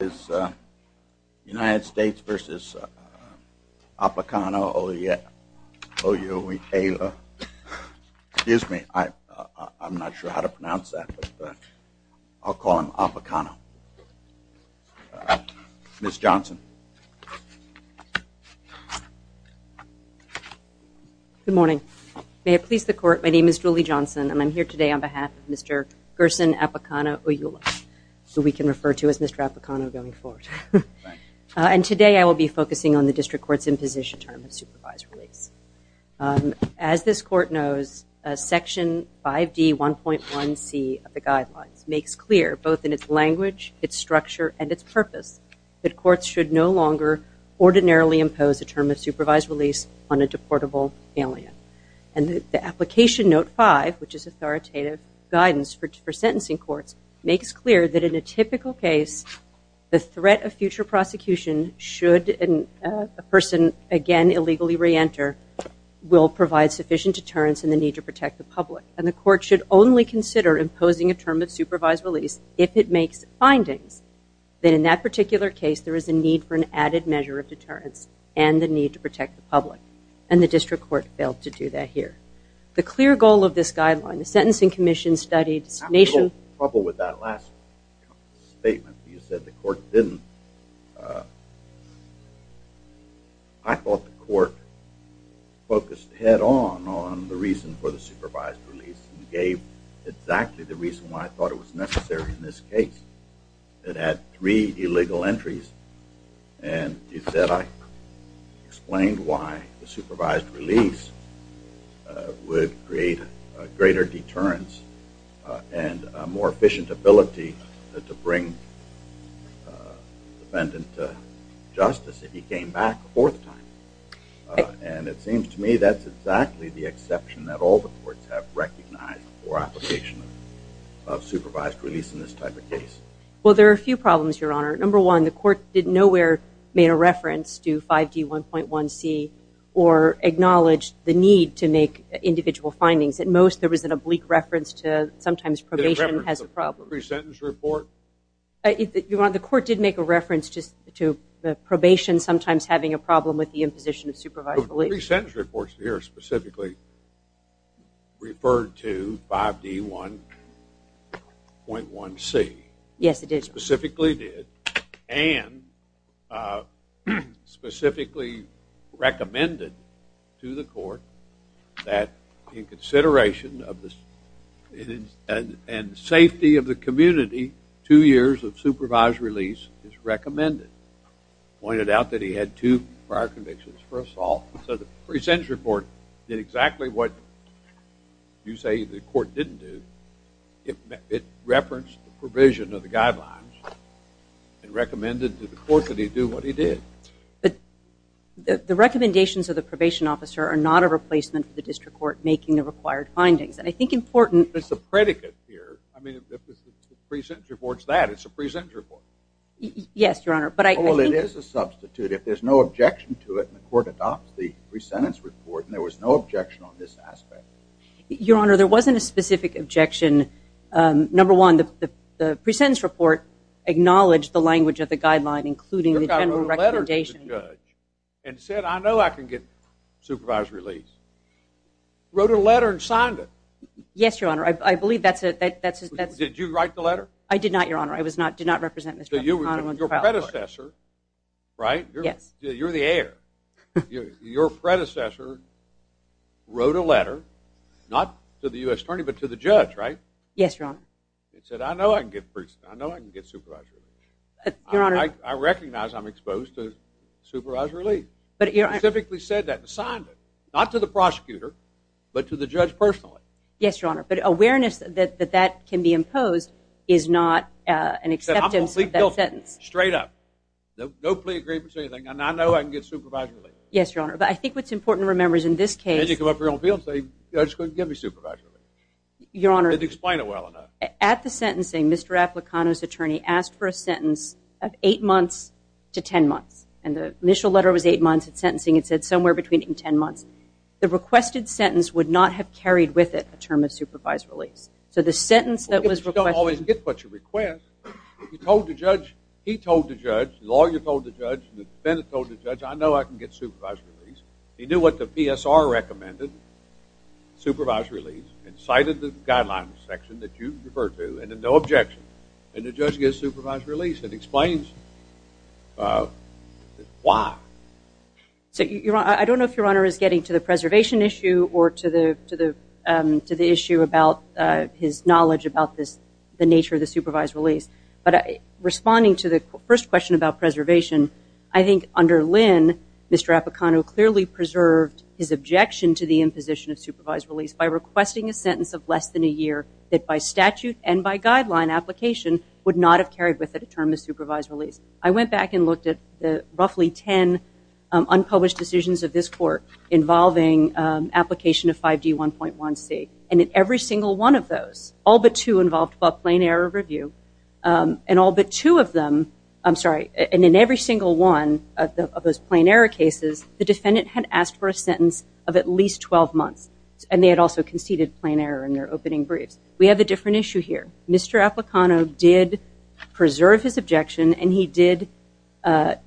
Good morning. May it please the court, my name is Julie Johnson and I'm here today on the District Court's Imposition Term of Supervised Release. As this court knows, Section 5D.1.1c of the guidelines makes clear both in its language, its structure, and its purpose that courts should no longer ordinarily impose a term of supervised release on a deportable alien. And the application note 5, which is authoritative guidance for sentencing courts, makes clear that in a typical case, the threat of future prosecution should a person again illegally re-enter will provide sufficient deterrence and the need to protect the public. And the court should only consider imposing a term of supervised release if it makes findings that in that particular case there is a need for an added measure of deterrence and the need to protect the public. And the District Court failed to do that here. The clear goal of this guideline, the Sentencing Commission studied. I had a little trouble with that last statement. You said the court didn't. I thought the court focused head on on the reason for the supervised release and gave exactly the reason why I thought it was necessary in this case. It had three illegal entries. And you said I explained why the supervised release would create a greater deterrence and a more efficient ability to bring defendant to justice if he came back a fourth time. And it seems to me that's exactly the exception that all the courts have recognized for application of supervised release in this type of case. Well, there are a few problems, Your Honor. Number one, the court did nowhere made a reference to 5D1.1c or acknowledged the need to make individual findings. At most there was an oblique reference to sometimes probation has a problem. Did it reference the pre-sentence report? The court did make a reference to probation sometimes having a problem with the imposition of supervised release. The pre-sentence reports here specifically referred to 5D1.1c. Yes, it did. It specifically did and specifically recommended to the court that in consideration of the safety of the community, two years of supervised release is recommended. Pointed out that he had two prior convictions for assault. So the pre-sentence report did exactly what you of the guidelines and recommended to the court that he do what he did. The recommendations of the probation officer are not a replacement for the district court making the required findings. And I think important It's a predicate here. I mean, if the pre-sentence report's that, it's a pre-sentence report. Yes, Your Honor. Well, it is a substitute if there's no objection to it and the court adopts the pre-sentence report and there was no objection on this aspect. Your Honor, there wasn't a specific objection. Number one, the pre-sentence report acknowledged the language of the guideline, including the general recommendation. You wrote a letter to the judge and said, I know I can get supervised release. Wrote a letter and signed it. Yes, Your Honor. I believe that's it. Did you write the letter? I did not, Your Honor. I did not represent Mr. McConnell on the trial. Right? You're the heir. Your predecessor wrote a letter, not to the U.S. Attorney, but to the judge, right? Yes, Your Honor. It said, I know I can get supervised release. I recognize I'm exposed to supervised release. Specifically said that and signed it. Not to the prosecutor, but to the judge personally. Yes, Your Honor. But awareness that that can be imposed is not an acceptance of that sentence. Straight up. No plea agreement or anything. I know I can get supervised release. Yes, Your Honor. But I think what's important to remember is in this case... Did you come up here on field and say, the judge couldn't give me supervised release? Your Honor... Didn't explain it well enough. At the sentencing, Mr. Applicano's attorney asked for a sentence of 8 months to 10 months. And the initial letter was 8 months. At sentencing, it said somewhere between 10 months. The requested sentence would not have carried with it a term of supervised release. So the sentence that was requested... You told the judge. He told the judge. The lawyer told the judge. The defendant told the judge, I know I can get supervised release. He knew what the PSR recommended. Supervised release. And cited the guidelines section that you refer to and then no objection. And the judge gives supervised release and explains why. I don't know if Your Honor is getting to the preservation issue or to the issue about his knowledge about the nature of the supervised release. But responding to the first question about preservation, I think under Lynn, Mr. Applicano clearly preserved his objection to the imposition of supervised release by requesting a sentence of less than a year that by statute and by guideline application would not have carried with it a term of supervised release. I went back and looked at roughly 10 unpublished decisions of this court involving application of 5D1.1c. And in every single one of those, all but two involved about plain error review. And all but two of them... I'm sorry. And in every single one of those plain error cases, the defendant had asked for a sentence of at least 12 months. And they had also conceded plain error in their opening briefs. We have a different issue here. Mr. Applicano did preserve his objection and he did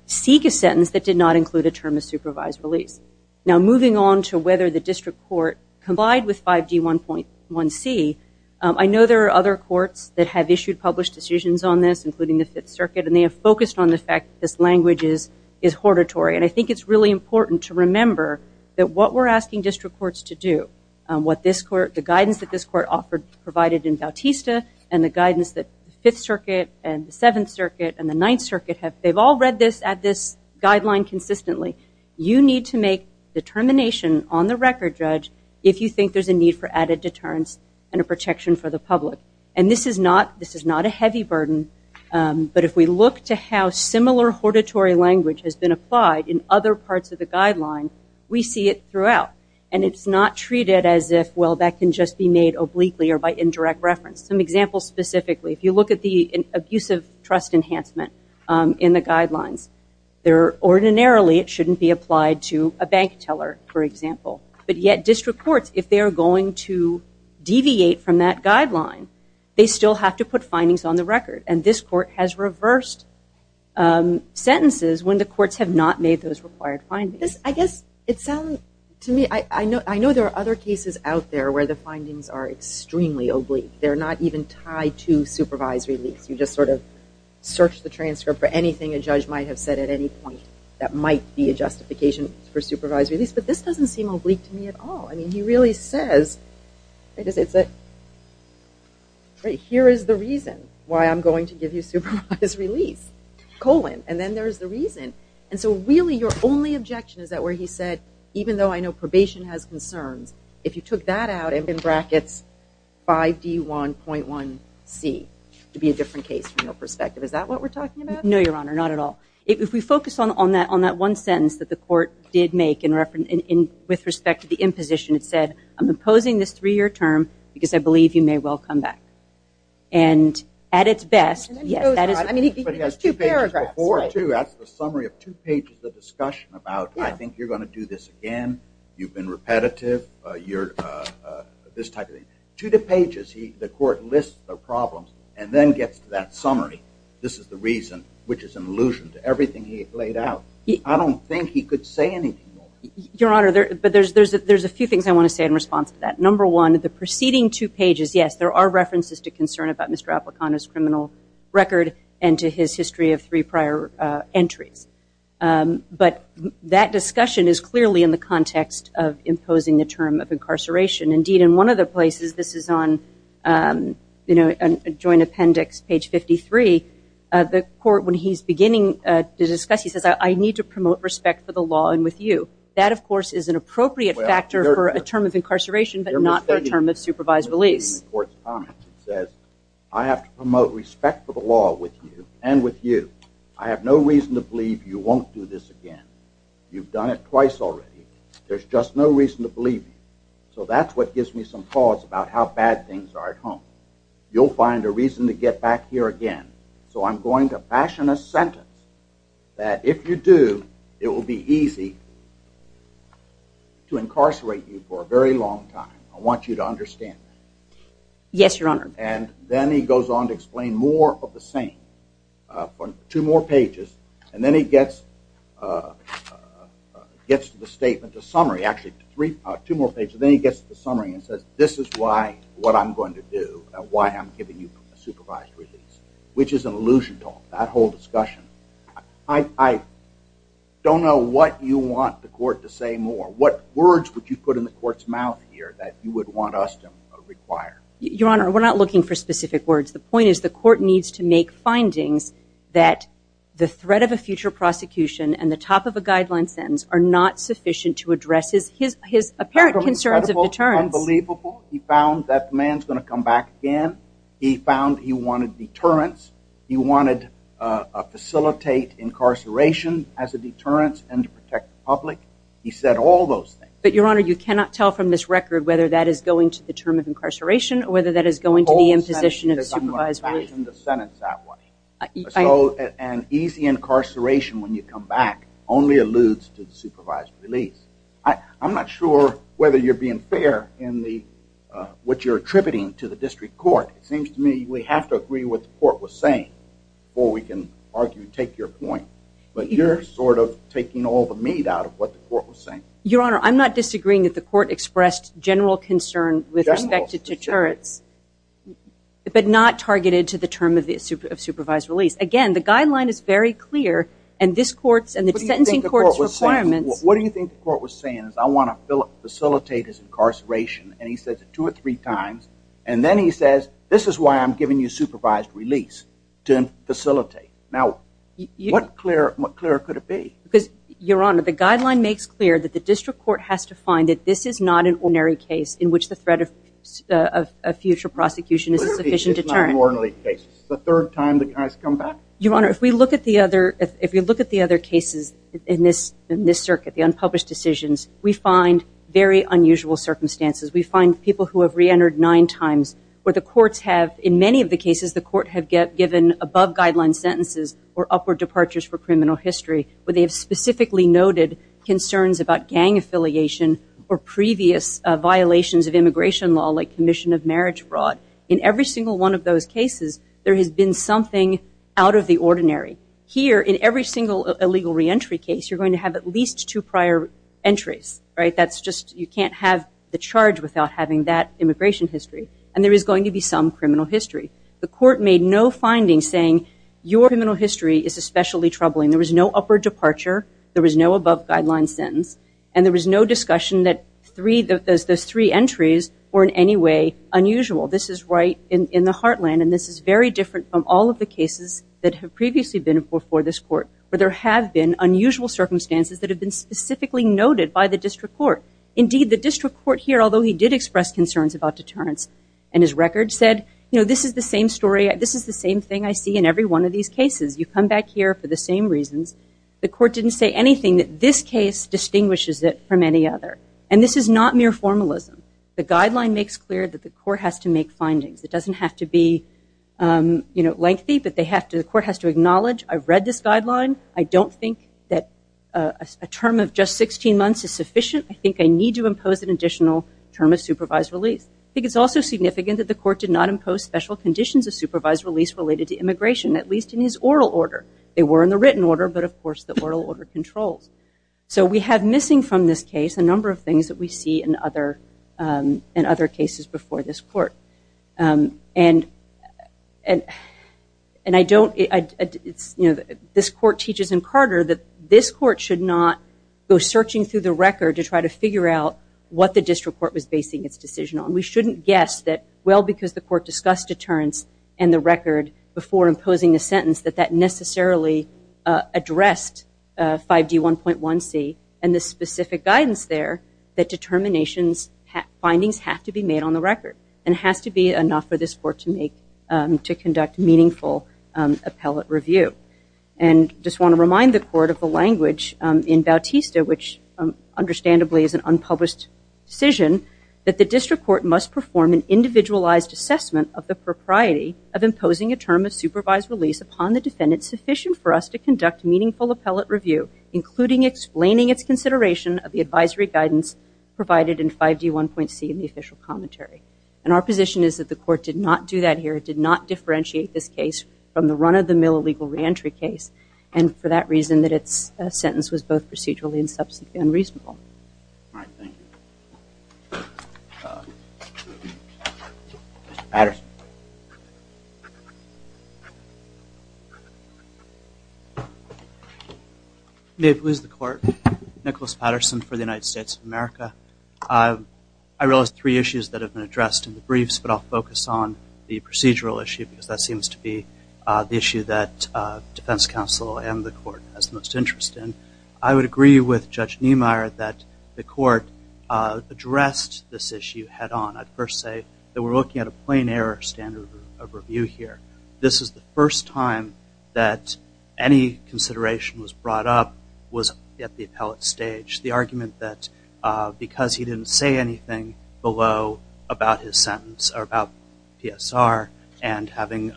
seek a sentence that did not include a term of supervised release. Now, moving on to whether the district court complied with 5D1.1c, I know there are other courts that have issued published decisions on this, including the Fifth Circuit, and they have focused on the fact that this language is hortatory. And I think it's really important to remember that what we're asking district courts to do, the guidance that this court offered, provided in Bautista, and the guidance that the Fifth Circuit and the Seventh Circuit and the Ninth Circuit, they've all read this guideline consistently. You need to make determination on the record, judge, if you think there's a need for added deterrence and a protection for the public. And this is not a heavy burden, but if we look to how similar hortatory language has been applied in other parts of the guideline, we see it throughout. And it's not treated as if, well, that can just be made obliquely or by indirect reference. Some examples specifically, if you look at the abusive trust enhancement in the guidelines, ordinarily it shouldn't be applied to a bank teller, for example. But yet district courts, if they are going to deviate from that guideline, they still have to put findings on the record. And this court has reversed sentences when the courts have not made those required findings. I guess it sounds to me, I know there are other cases out there where the findings are extremely oblique. They're not even tied to supervisory leaks. You just sort of search the transcript for anything a judge might have said at any point that might be a justification for supervised release. But this doesn't seem oblique to me at all. I mean, he really says, here is the reason why I'm going to give you supervised release, colon. And then there's the reason. And so really your only objection is that where he said, even though I know probation has concerns, if you took that out and put in brackets 5D1.1C, it would be a different case from your perspective. Is that what we're talking about? No, Your Honor, not at all. If we focus on that one sentence that the court did make with respect to the imposition, it said, I'm opposing this three-year term because I believe you may well come back. And at its best, yes. But he has two paragraphs. That's the summary of two pages of discussion about I think you're going to do this again, you've been repetitive, this type of thing. Two pages, the court lists the problems and then gets to that summary. This is the reason, which is an allusion to everything he laid out. I don't think he could say anything more. Your Honor, there's a few things I want to say in response to that. Number one, the preceding two pages, yes, there are references to concern about Mr. Applicano's criminal record and to his history of three prior entries. But that discussion is clearly in the context of imposing the term of incarceration. Indeed, in one of the places, this is on joint appendix, page 53, the court, when he's beginning to discuss, he says, I need to promote respect for the law and with you. That, of course, is an appropriate factor for a term of incarceration but not for a term of supervised release. It says, I have to promote respect for the law with you and with you. I have no reason to believe you won't do this again. You've done it twice already. There's just no reason to believe you. So that's what gives me some pause about how bad things are at home. You'll find a reason to get back here again. So I'm going to fashion a sentence that if you do, it will be easy to incarcerate you for a very long time. I want you to understand that. Yes, Your Honor. And then he goes on to explain more of the same, two more pages, and then he gets to the summary, actually two more pages, and then he gets to the summary and says, this is what I'm going to do, why I'm giving you a supervised release, which is an illusion talk, that whole discussion. I don't know what you want the court to say more. What words would you put in the court's mouth here that you would want us to require? Your Honor, we're not looking for specific words. The point is the court needs to make findings that the threat of a future prosecution and the top of a guideline sentence are not sufficient to address his apparent concerns of deterrence. Unbelievable. He found that the man's going to come back again. He found he wanted deterrence. He wanted to facilitate incarceration as a deterrence and to protect the public. He said all those things. But, Your Honor, you cannot tell from this record whether that is going to the term of incarceration or whether that is going to the imposition of supervised release. An easy incarceration when you come back only alludes to the supervised release. I'm not sure whether you're being fair in what you're attributing to the district court. It seems to me we have to agree with what the court was saying before we can argue and take your point. But you're sort of taking all the meat out of what the court was saying. Your Honor, I'm not disagreeing that the court expressed general concern with respect to deterrence but not targeted to the term of supervised release. Again, the guideline is very clear and this court's and the sentencing court's requirements. What do you think the court was saying? I want to facilitate his incarceration and he says it two or three times and then he says this is why I'm giving you supervised release to facilitate. Now, what clearer could it be? Your Honor, the guideline makes clear that the district court has to find that this is not an ordinary case in which the threat of future prosecution is sufficient deterrent. It's not an ordinary case. It's the third time the guy's come back? Your Honor, if we look at the other cases in this circuit, the unpublished decisions, we find very unusual circumstances. We find people who have reentered nine times where the courts have, in many of the cases, the court have given above guideline sentences or upward departures for criminal history where they have specifically noted concerns about gang affiliation or previous violations of immigration law like commission of marriage fraud. In every single one of those cases, there has been something out of the ordinary. Here, in every single illegal reentry case, you're going to have at least two prior entries, right? That's just you can't have the charge without having that immigration history and there is going to be some criminal history. The court made no findings saying your criminal history is especially troubling. There was no upward departure. There was no above guideline sentence. And there was no discussion that those three entries were in any way unusual. This is right in the heartland and this is very different from all of the cases that have previously been before this court where there have been unusual circumstances that have been specifically noted by the district court. Indeed, the district court here, although he did express concerns about deterrence and his record said, you know, this is the same story. This is the same thing I see in every one of these cases. You come back here for the same reasons. The court didn't say anything that this case distinguishes it from any other. And this is not mere formalism. The guideline makes clear that the court has to make findings. It doesn't have to be, you know, lengthy, but the court has to acknowledge, I've read this guideline. I don't think that a term of just 16 months is sufficient. I think I need to impose an additional term of supervised release. I think it's also significant that the court did not impose special conditions of supervised release related to immigration, at least in his oral order. They were in the written order, but, of course, the oral order controls. So we have missing from this case a number of things that we see in other cases before this court. And I don't, you know, this court teaches in Carter that this court should not go searching through the record to try to figure out what the district court was basing its decision on. And we shouldn't guess that, well, because the court discussed deterrence and the record before imposing a sentence, that that necessarily addressed 5D1.1c and the specific guidance there that determinations, findings have to be made on the record. And it has to be enough for this court to conduct meaningful appellate review. And I just want to remind the court of the language in Bautista, which understandably is an unpublished decision, that the district court must perform an individualized assessment of the propriety of imposing a term of supervised release upon the defendant sufficient for us to conduct meaningful appellate review, including explaining its consideration of the advisory guidance provided in 5D1.c in the official commentary. And our position is that the court did not do that here. It did not differentiate this case from the run-of-the-mill illegal reentry case. And for that reason, that its sentence was both procedurally and reasonably. All right, thank you. Mr. Patterson. May it please the Court. Nicholas Patterson for the United States of America. I realize three issues that have been addressed in the briefs, but I'll focus on the procedural issue because that seems to be the issue that defense counsel and the court has the most interest in. I would agree with Judge Niemeyer that the court addressed this issue head-on. I'd first say that we're looking at a plain error standard of review here. This is the first time that any consideration was brought up was at the appellate stage. The argument that because he didn't say anything below about his sentence or about PSR and having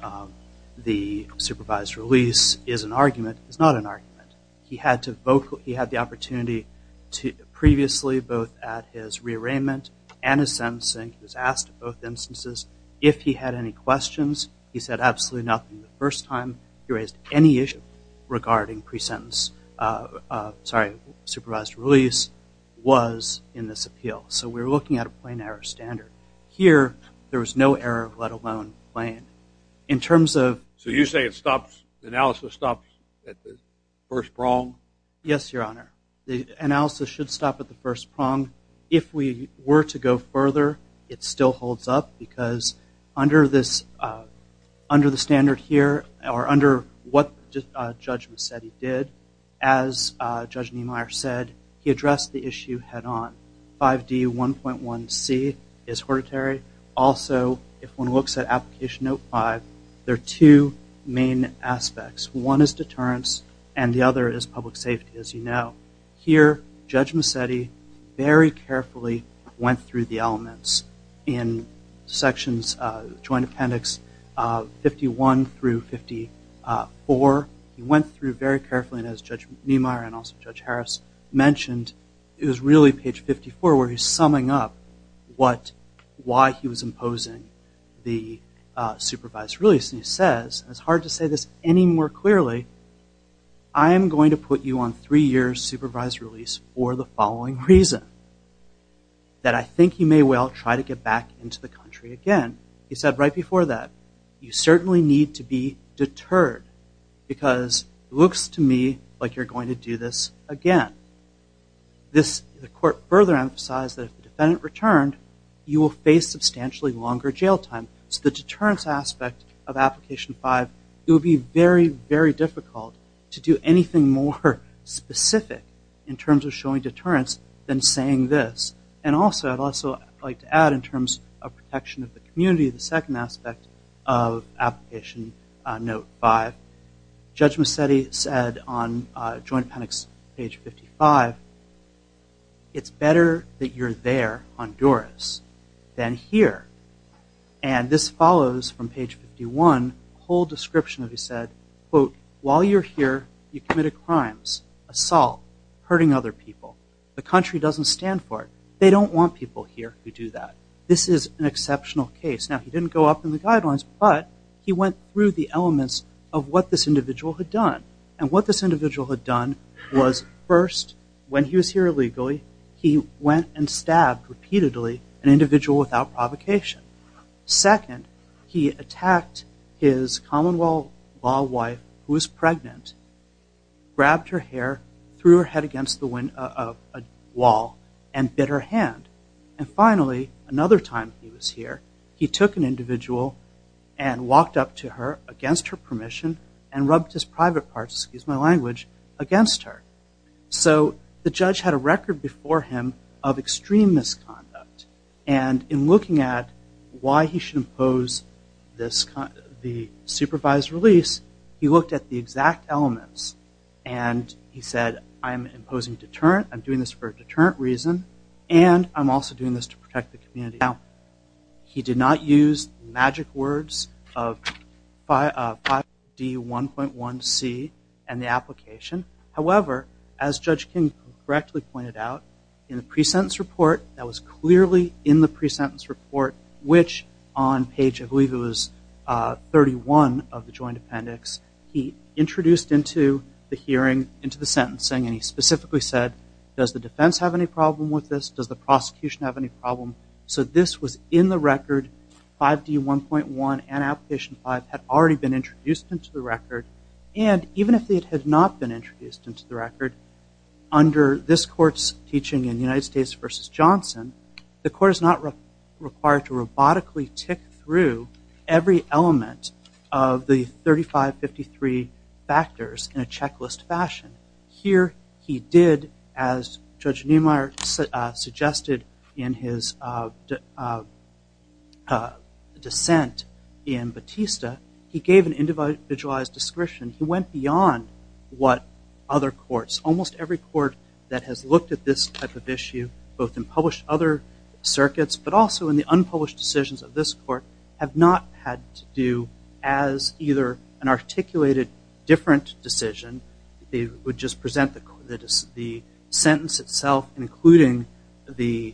the supervised release is an argument is not an argument. He had the opportunity previously both at his rearrangement and his sentencing, he was asked in both instances if he had any questions. He said absolutely nothing the first time. He raised any issue regarding supervised release was in this appeal. So we're looking at a plain error standard. Here there was no error, let alone plain. So you say analysis stops at the first prong? Yes, Your Honor. The analysis should stop at the first prong. If we were to go further, it still holds up because under the standard here or under what Judge Mazzetti did, as Judge Niemeyer said, he addressed the issue head-on. 5D1.1c is hereditary. Also, if one looks at Application Note 5, there are two main aspects. One is deterrence and the other is public safety, as you know. Here Judge Mazzetti very carefully went through the elements in Sections Joint Appendix 51 through 54. He went through very carefully, and as Judge Niemeyer and also Judge Harris mentioned, it was really page 54 where he's summing up why he was imposing the supervised release. He says, and it's hard to say this any more clearly, I am going to put you on three-year supervised release for the following reason, that I think you may well try to get back into the country again. He said right before that, you certainly need to be deterred because it looks to me like you're going to do this again. The court further emphasized that if the defendant returned, you will face substantially longer jail time. So the deterrence aspect of Application 5, it would be very, very difficult to do anything more specific in terms of showing deterrence than saying this. And also I'd like to add in terms of protection of the community, the second aspect of Application Note 5, Judge Mazzetti said on Joint Appendix page 55, it's better that you're there, Honduras, than here. And this follows from page 51, a whole description that he said, quote, while you're here, you committed crimes, assault, hurting other people. The country doesn't stand for it. They don't want people here who do that. This is an exceptional case. Now, he didn't go up in the guidelines, but he went through the elements of what this individual had done. And what this individual had done was, first, when he was here illegally, he went and stabbed repeatedly an individual without provocation. Second, he attacked his Commonwealth law wife who was pregnant, grabbed her hair, threw her head against the wall, and bit her hand. And finally, another time he was here, he took an individual and walked up to her against her permission and rubbed his private parts, excuse my language, against her. So the judge had a record before him of extreme misconduct. And in looking at why he should impose the supervised release, he looked at the exact elements and he said, I'm imposing deterrent, I'm doing this for a deterrent reason, and I'm also doing this to protect the community. Now, he did not use the magic words of 5D1.1C and the application. However, as Judge King correctly pointed out, in the pre-sentence report that was clearly in the pre-sentence report, which on page I believe it was 31 of the joint appendix, he introduced into the hearing, into the sentencing, and he specifically said, does the defense have any problem with this? Does the prosecution have any problem? So this was in the record. 5D1.1 and application 5 had already been introduced into the record. And even if it had not been introduced into the record, under this court's teaching in the United States v. Johnson, the court is not required to robotically tick through every element of the 3553 factors in a checklist fashion. Here he did, as Judge Neumeier suggested in his dissent in Batista, he gave an individualized description. He went beyond what other courts, both in published other circuits, but also in the unpublished decisions of this court, have not had to do as either an articulated different decision. They would just present the sentence itself, including the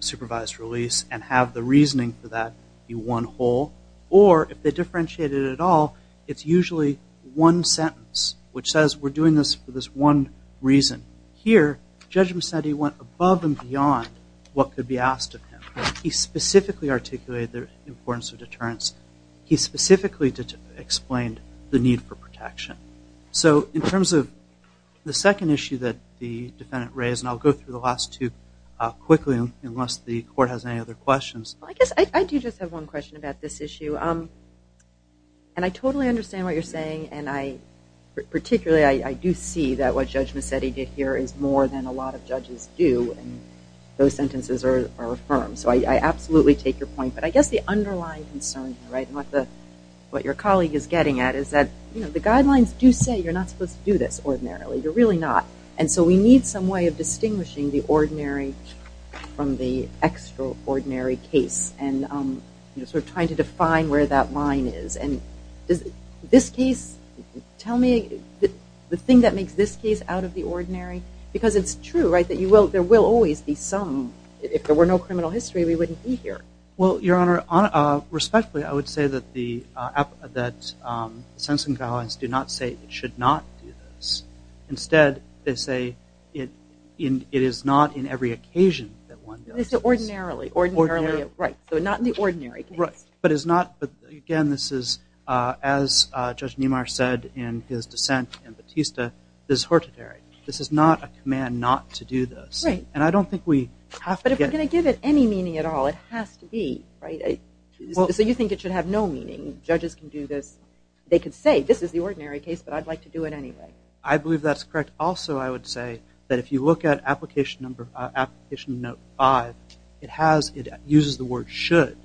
supervised release, and have the reasoning for that be one whole. Or if they differentiate it at all, it's usually one sentence, which says we're doing this for this one reason. Here, Judge Macedi went above and beyond what could be asked of him. He specifically articulated the importance of deterrence. He specifically explained the need for protection. So in terms of the second issue that the defendant raised, and I'll go through the last two quickly, unless the court has any other questions. I guess I do just have one question about this issue. And I totally understand what you're saying, and particularly I do see that what Judge Macedi did here is more than a lot of judges do, and those sentences are affirmed. So I absolutely take your point. But I guess the underlying concern here, and what your colleague is getting at, is that the guidelines do say you're not supposed to do this ordinarily. You're really not. And so we need some way of distinguishing the ordinary from the extraordinary case, and sort of trying to define where that line is. And does this case, tell me, the thing that makes this case out of the ordinary? Because it's true, right, that there will always be some, if there were no criminal history, we wouldn't be here. Well, Your Honor, respectfully, I would say that the sentencing guidelines do not say it should not do this. Instead, they say it is not in every occasion that one does this. Ordinarily, ordinarily, right. So not in the ordinary case. But again, this is, as Judge Niemeyer said in his dissent in Batista, this is hortatory. This is not a command not to do this. And I don't think we have to get it. But if we're going to give it any meaning at all, it has to be, right? So you think it should have no meaning? Judges can do this, they can say, this is the ordinary case, but I'd like to do it anyway. I believe that's correct. Also, I would say that if you look at Application Note 5, it uses the word should,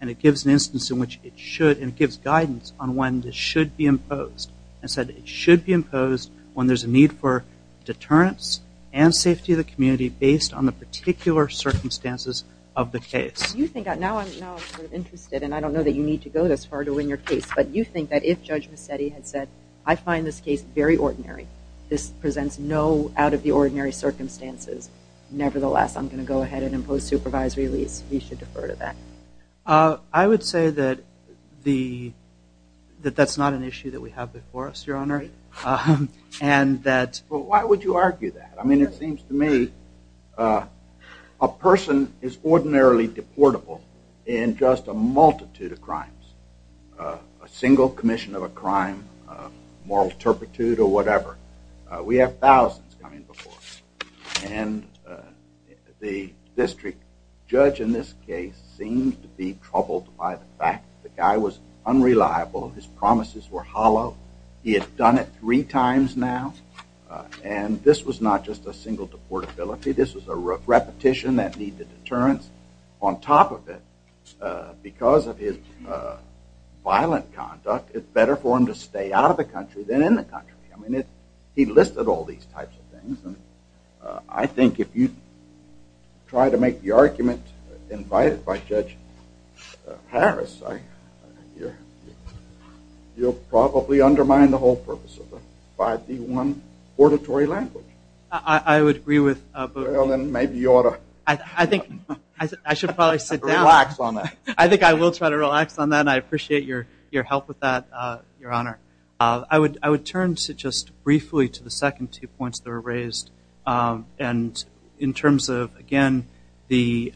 and it gives an instance in which it should, and it gives guidance on when this should be imposed. It said it should be imposed when there's a need for deterrence and safety of the community based on the particular circumstances of the case. Now I'm sort of interested, and I don't know that you need to go this far to win your case, but you think that if Judge Massetti had said, I find this case very ordinary, this presents no out-of-the-ordinary circumstances, nevertheless, I'm going to go ahead and impose supervisory release. He should defer to that. I would say that that's not an issue that we have before us, Your Honor. Right. Why would you argue that? I mean, it seems to me a person is ordinarily deportable in just a multitude of crimes, a single commission of a crime, moral turpitude or whatever. We have thousands coming before us. And the district judge in this case seemed to be troubled by the fact the guy was unreliable, his promises were hollow. He had done it three times now, and this was not just a single deportability. This was a repetition that needed deterrence. On top of it, because of his violent conduct, it's better for him to stay out of the country than in the country. I mean, he listed all these types of things, and I think if you try to make the argument invited by Judge Harris, you'll probably undermine the whole purpose of the 5D1 auditory language. I would agree with Booth. Well, then maybe you ought to relax on that. I think I will try to relax on that, and I appreciate your help with that, Your Honor. I would turn just briefly to the second two points that were raised. And in terms of, again, the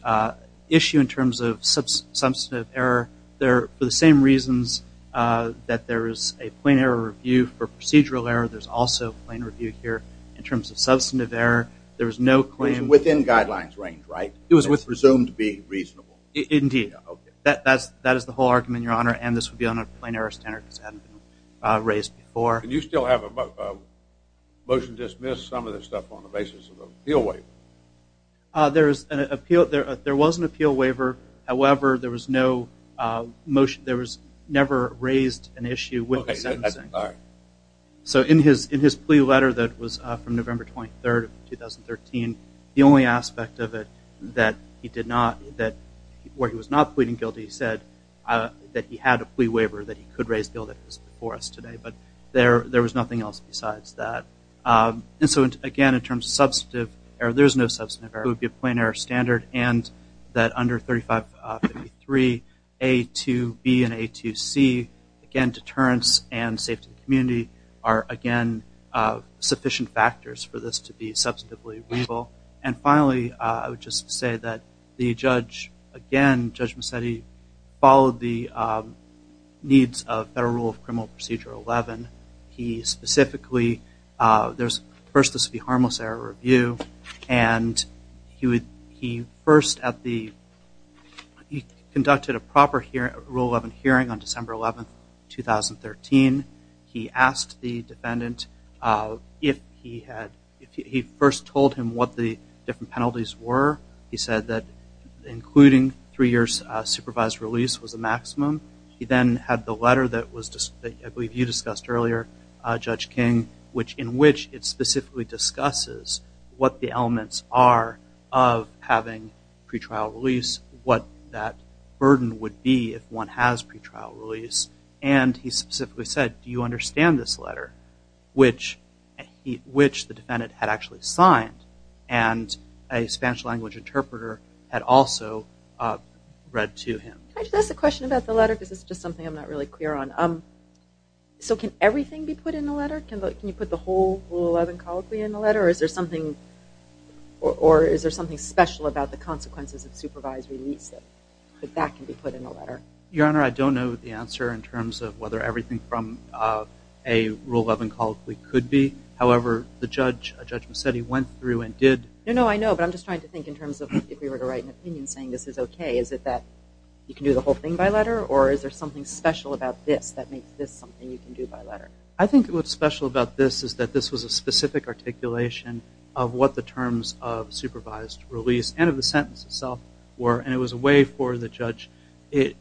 issue in terms of substantive error, for the same reasons that there is a plain error review for procedural error, there's also a plain review here in terms of substantive error. It was within guidelines range, right? It was presumed to be reasonable. Indeed. That is the whole argument, Your Honor, and this would be on a plain error standard because it hadn't been raised before. Do you still have a motion to dismiss some of this stuff on the basis of an appeal waiver? There was an appeal waiver. However, there was no motion. There was never raised an issue with the sentencing. So in his plea letter that was from November 23rd of 2013, the only aspect of it that he did not, where he was not pleading guilty, he said that he had a plea waiver that he could raise the bill that was before us today. But there was nothing else besides that. And so, again, in terms of substantive error, there's no substantive error. It would be a plain error standard and that under 3553A2B and A2C, again, deterrence and safety of the community are, again, sufficient factors for this to be substantively reasonable. And finally, I would just say that the judge, again, Judge Macedi followed the needs of Federal Rule of Criminal Procedure 11. He specifically, first this would be harmless error review, and he conducted a proper Rule 11 hearing on December 11th, 2013. He asked the defendant if he had, he first told him what the different penalties were. He said that including three years supervised release was the maximum. He then had the letter that I believe you discussed earlier, Judge King, in which it specifically discusses what the elements are of having pretrial release, what that burden would be if one has pretrial release. And he specifically said, do you understand this letter, which the defendant had actually signed, and a Spanish language interpreter had also read to him. Can I just ask a question about the letter, because it's just something I'm not really clear on. So can everything be put in the letter? Can you put the whole Rule 11 colloquy in the letter, or is there something special about the consequences of supervised release that that can be put in the letter? Your Honor, I don't know the answer in terms of whether everything from a Rule 11 colloquy could be. However, the judge, Judge Macedi, went through and did. No, no, I know, but I'm just trying to think in terms of if we were to write an opinion saying this is okay, is it that you can do the whole thing by letter, or is there something special about this that makes this something you can do by letter? I think what's special about this is that this was a specific articulation of what the terms of supervised release and of the sentence itself were, and it was a way for the judge,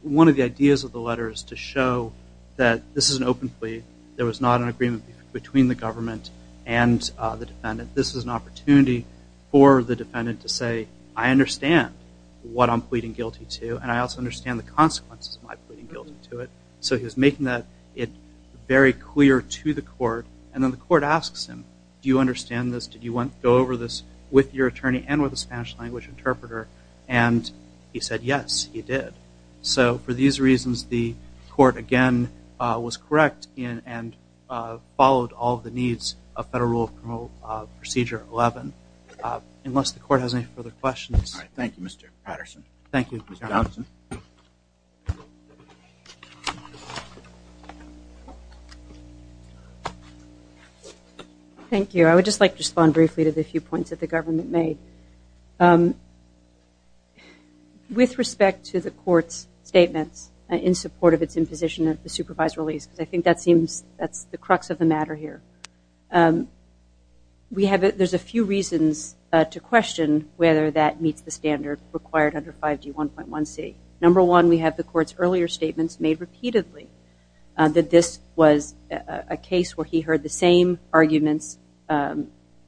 one of the ideas of the letter is to show that this is an open plea. There was not an agreement between the government and the defendant. This is an opportunity for the defendant to say, I understand what I'm pleading guilty to, and I also understand the consequences of my pleading guilty to it. So he was making that very clear to the court, and then the court asks him, do you understand this? Did you go over this with your attorney and with a Spanish-language interpreter? And he said yes, he did. So for these reasons, the court, again, was correct and followed all of the needs of Federal Rule of Procedure 11. Unless the court has any further questions. Thank you, Mr. Patterson. Thank you, Mr. Patterson. Thank you. I would just like to respond briefly to the few points that the government made. With respect to the court's statements in support of its imposition of the supervised release, because I think that's the crux of the matter here, there's a few reasons to question whether that meets the standard required under 5G1.1c. Number one, we have the court's earlier statements made repeatedly that this was a case where he heard the same arguments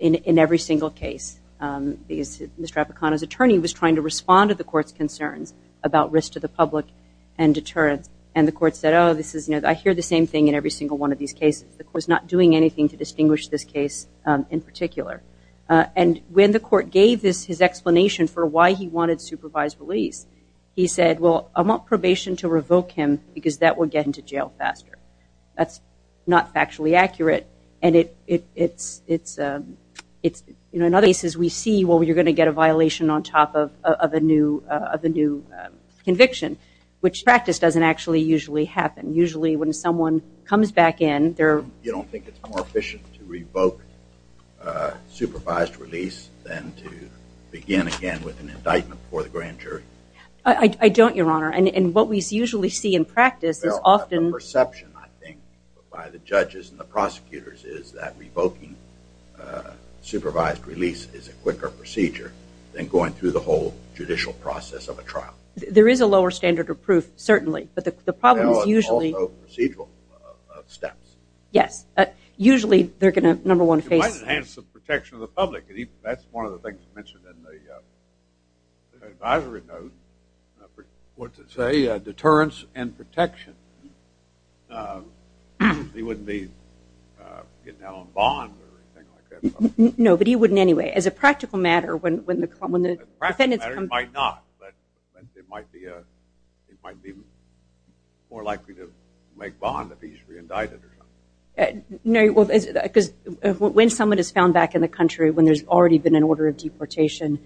in every single case. Mr. Apicano's attorney was trying to respond to the court's concerns about risk to the public and deterrence, and the court said, oh, I hear the same thing in every single one of these cases. The court's not doing anything to distinguish this case in particular. And when the court gave his explanation for why he wanted supervised release, he said, well, I want probation to revoke him because that will get him to jail faster. That's not factually accurate. And in other cases we see, well, you're going to get a violation on top of a new conviction, which in practice doesn't actually usually happen. Usually when someone comes back in, they're- You don't think it's more efficient to revoke supervised release than to begin again with an indictment for the grand jury? I don't, Your Honor. And what we usually see in practice is often- The perception, I think, by the judges and the prosecutors is that revoking supervised release is a quicker procedure than going through the whole judicial process of a trial. There is a lower standard of proof, certainly, but the problem is usually- There are also procedural steps. Yes. Usually they're going to, number one, face- It might enhance the protection of the public. That's one of the things mentioned in the advisory note. What's it say? Deterrence and protection. He wouldn't be getting out on bond or anything like that. No, but he wouldn't anyway. As a practical matter, when the- As a practical matter, he might not, but it might be more likely to make bond if he's reindicted or something. Because when someone is found back in the country when there's already been an order of deportation,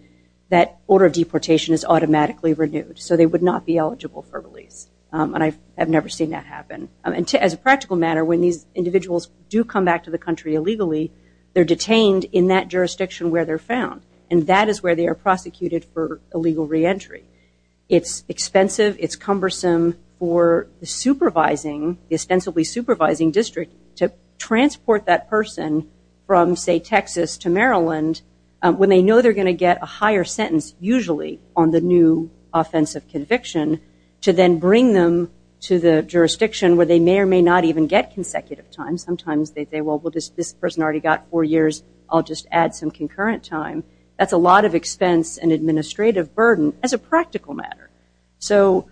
that order of deportation is automatically renewed, so they would not be eligible for release, and I've never seen that happen. As a practical matter, when these individuals do come back to the country illegally, they're detained in that jurisdiction where they're found, and that is where they are prosecuted for illegal reentry. It's expensive. It's cumbersome for the supervising, the ostensibly supervising district, to transport that person from, say, Texas to Maryland, when they know they're going to get a higher sentence usually on the new offensive conviction, to then bring them to the jurisdiction where they may or may not even get consecutive time. Sometimes they say, well, this person already got four years. I'll just add some concurrent time. That's a lot of expense and administrative burden. As a practical matter. So,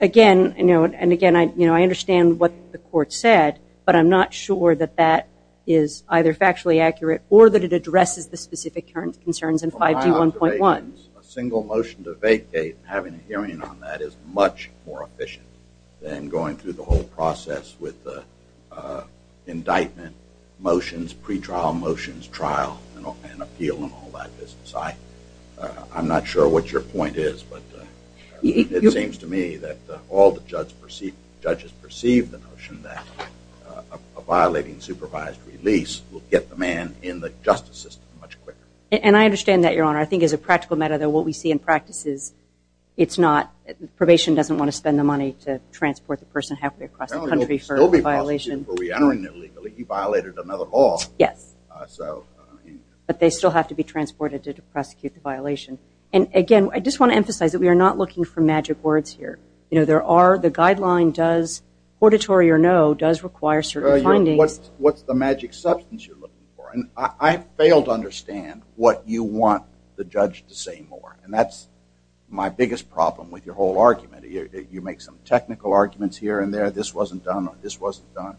again, and again, I understand what the court said, but I'm not sure that that is either factually accurate or that it addresses the specific concerns in 5G 1.1. A single motion to vacate and having a hearing on that is much more efficient than going through the whole process with the indictment motions, pretrial motions, trial, and appeal and all that business. I'm not sure what your point is, but it seems to me that all the judges perceive the notion that a violating supervised release will get the man in the justice system much quicker. And I understand that, Your Honor. I think as a practical matter, though, what we see in practice is it's not, probation doesn't want to spend the money to transport the person halfway across the country for a violation. He violated another law. Yes. But they still have to be transported to prosecute the violation. And, again, I just want to emphasize that we are not looking for magic words here. The guideline does, auditory or no, does require certain findings. What's the magic substance you're looking for? And I fail to understand what you want the judge to say more. And that's my biggest problem with your whole argument. You make some technical arguments here and there. This wasn't done or this wasn't done.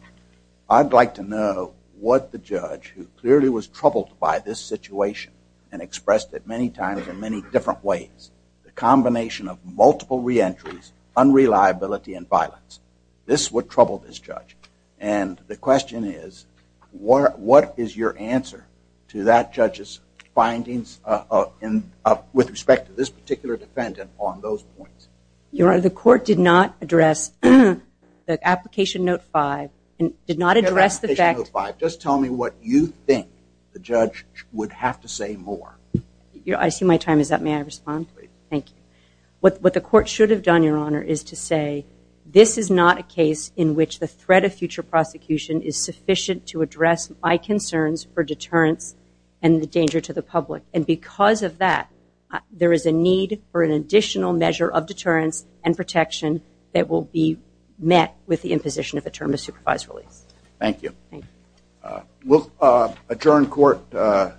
I'd like to know what the judge, who clearly was troubled by this situation and expressed it many times in many different ways, the combination of multiple reentries, unreliability, and violence, this would trouble this judge. And the question is, what is your answer to that judge's findings with respect to this particular defendant on those points? Your Honor, the court did not address the Application Note 5 and did not address the fact... Just tell me what you think the judge would have to say more. I see my time is up. May I respond? Please. Thank you. What the court should have done, Your Honor, is to say, this is not a case in which the threat of future prosecution is sufficient to address my concerns for deterrence and the danger to the public. And because of that, there is a need for an additional measure of deterrence and protection that will be met with the imposition of a term of supervised release. Thank you. We'll adjourn court.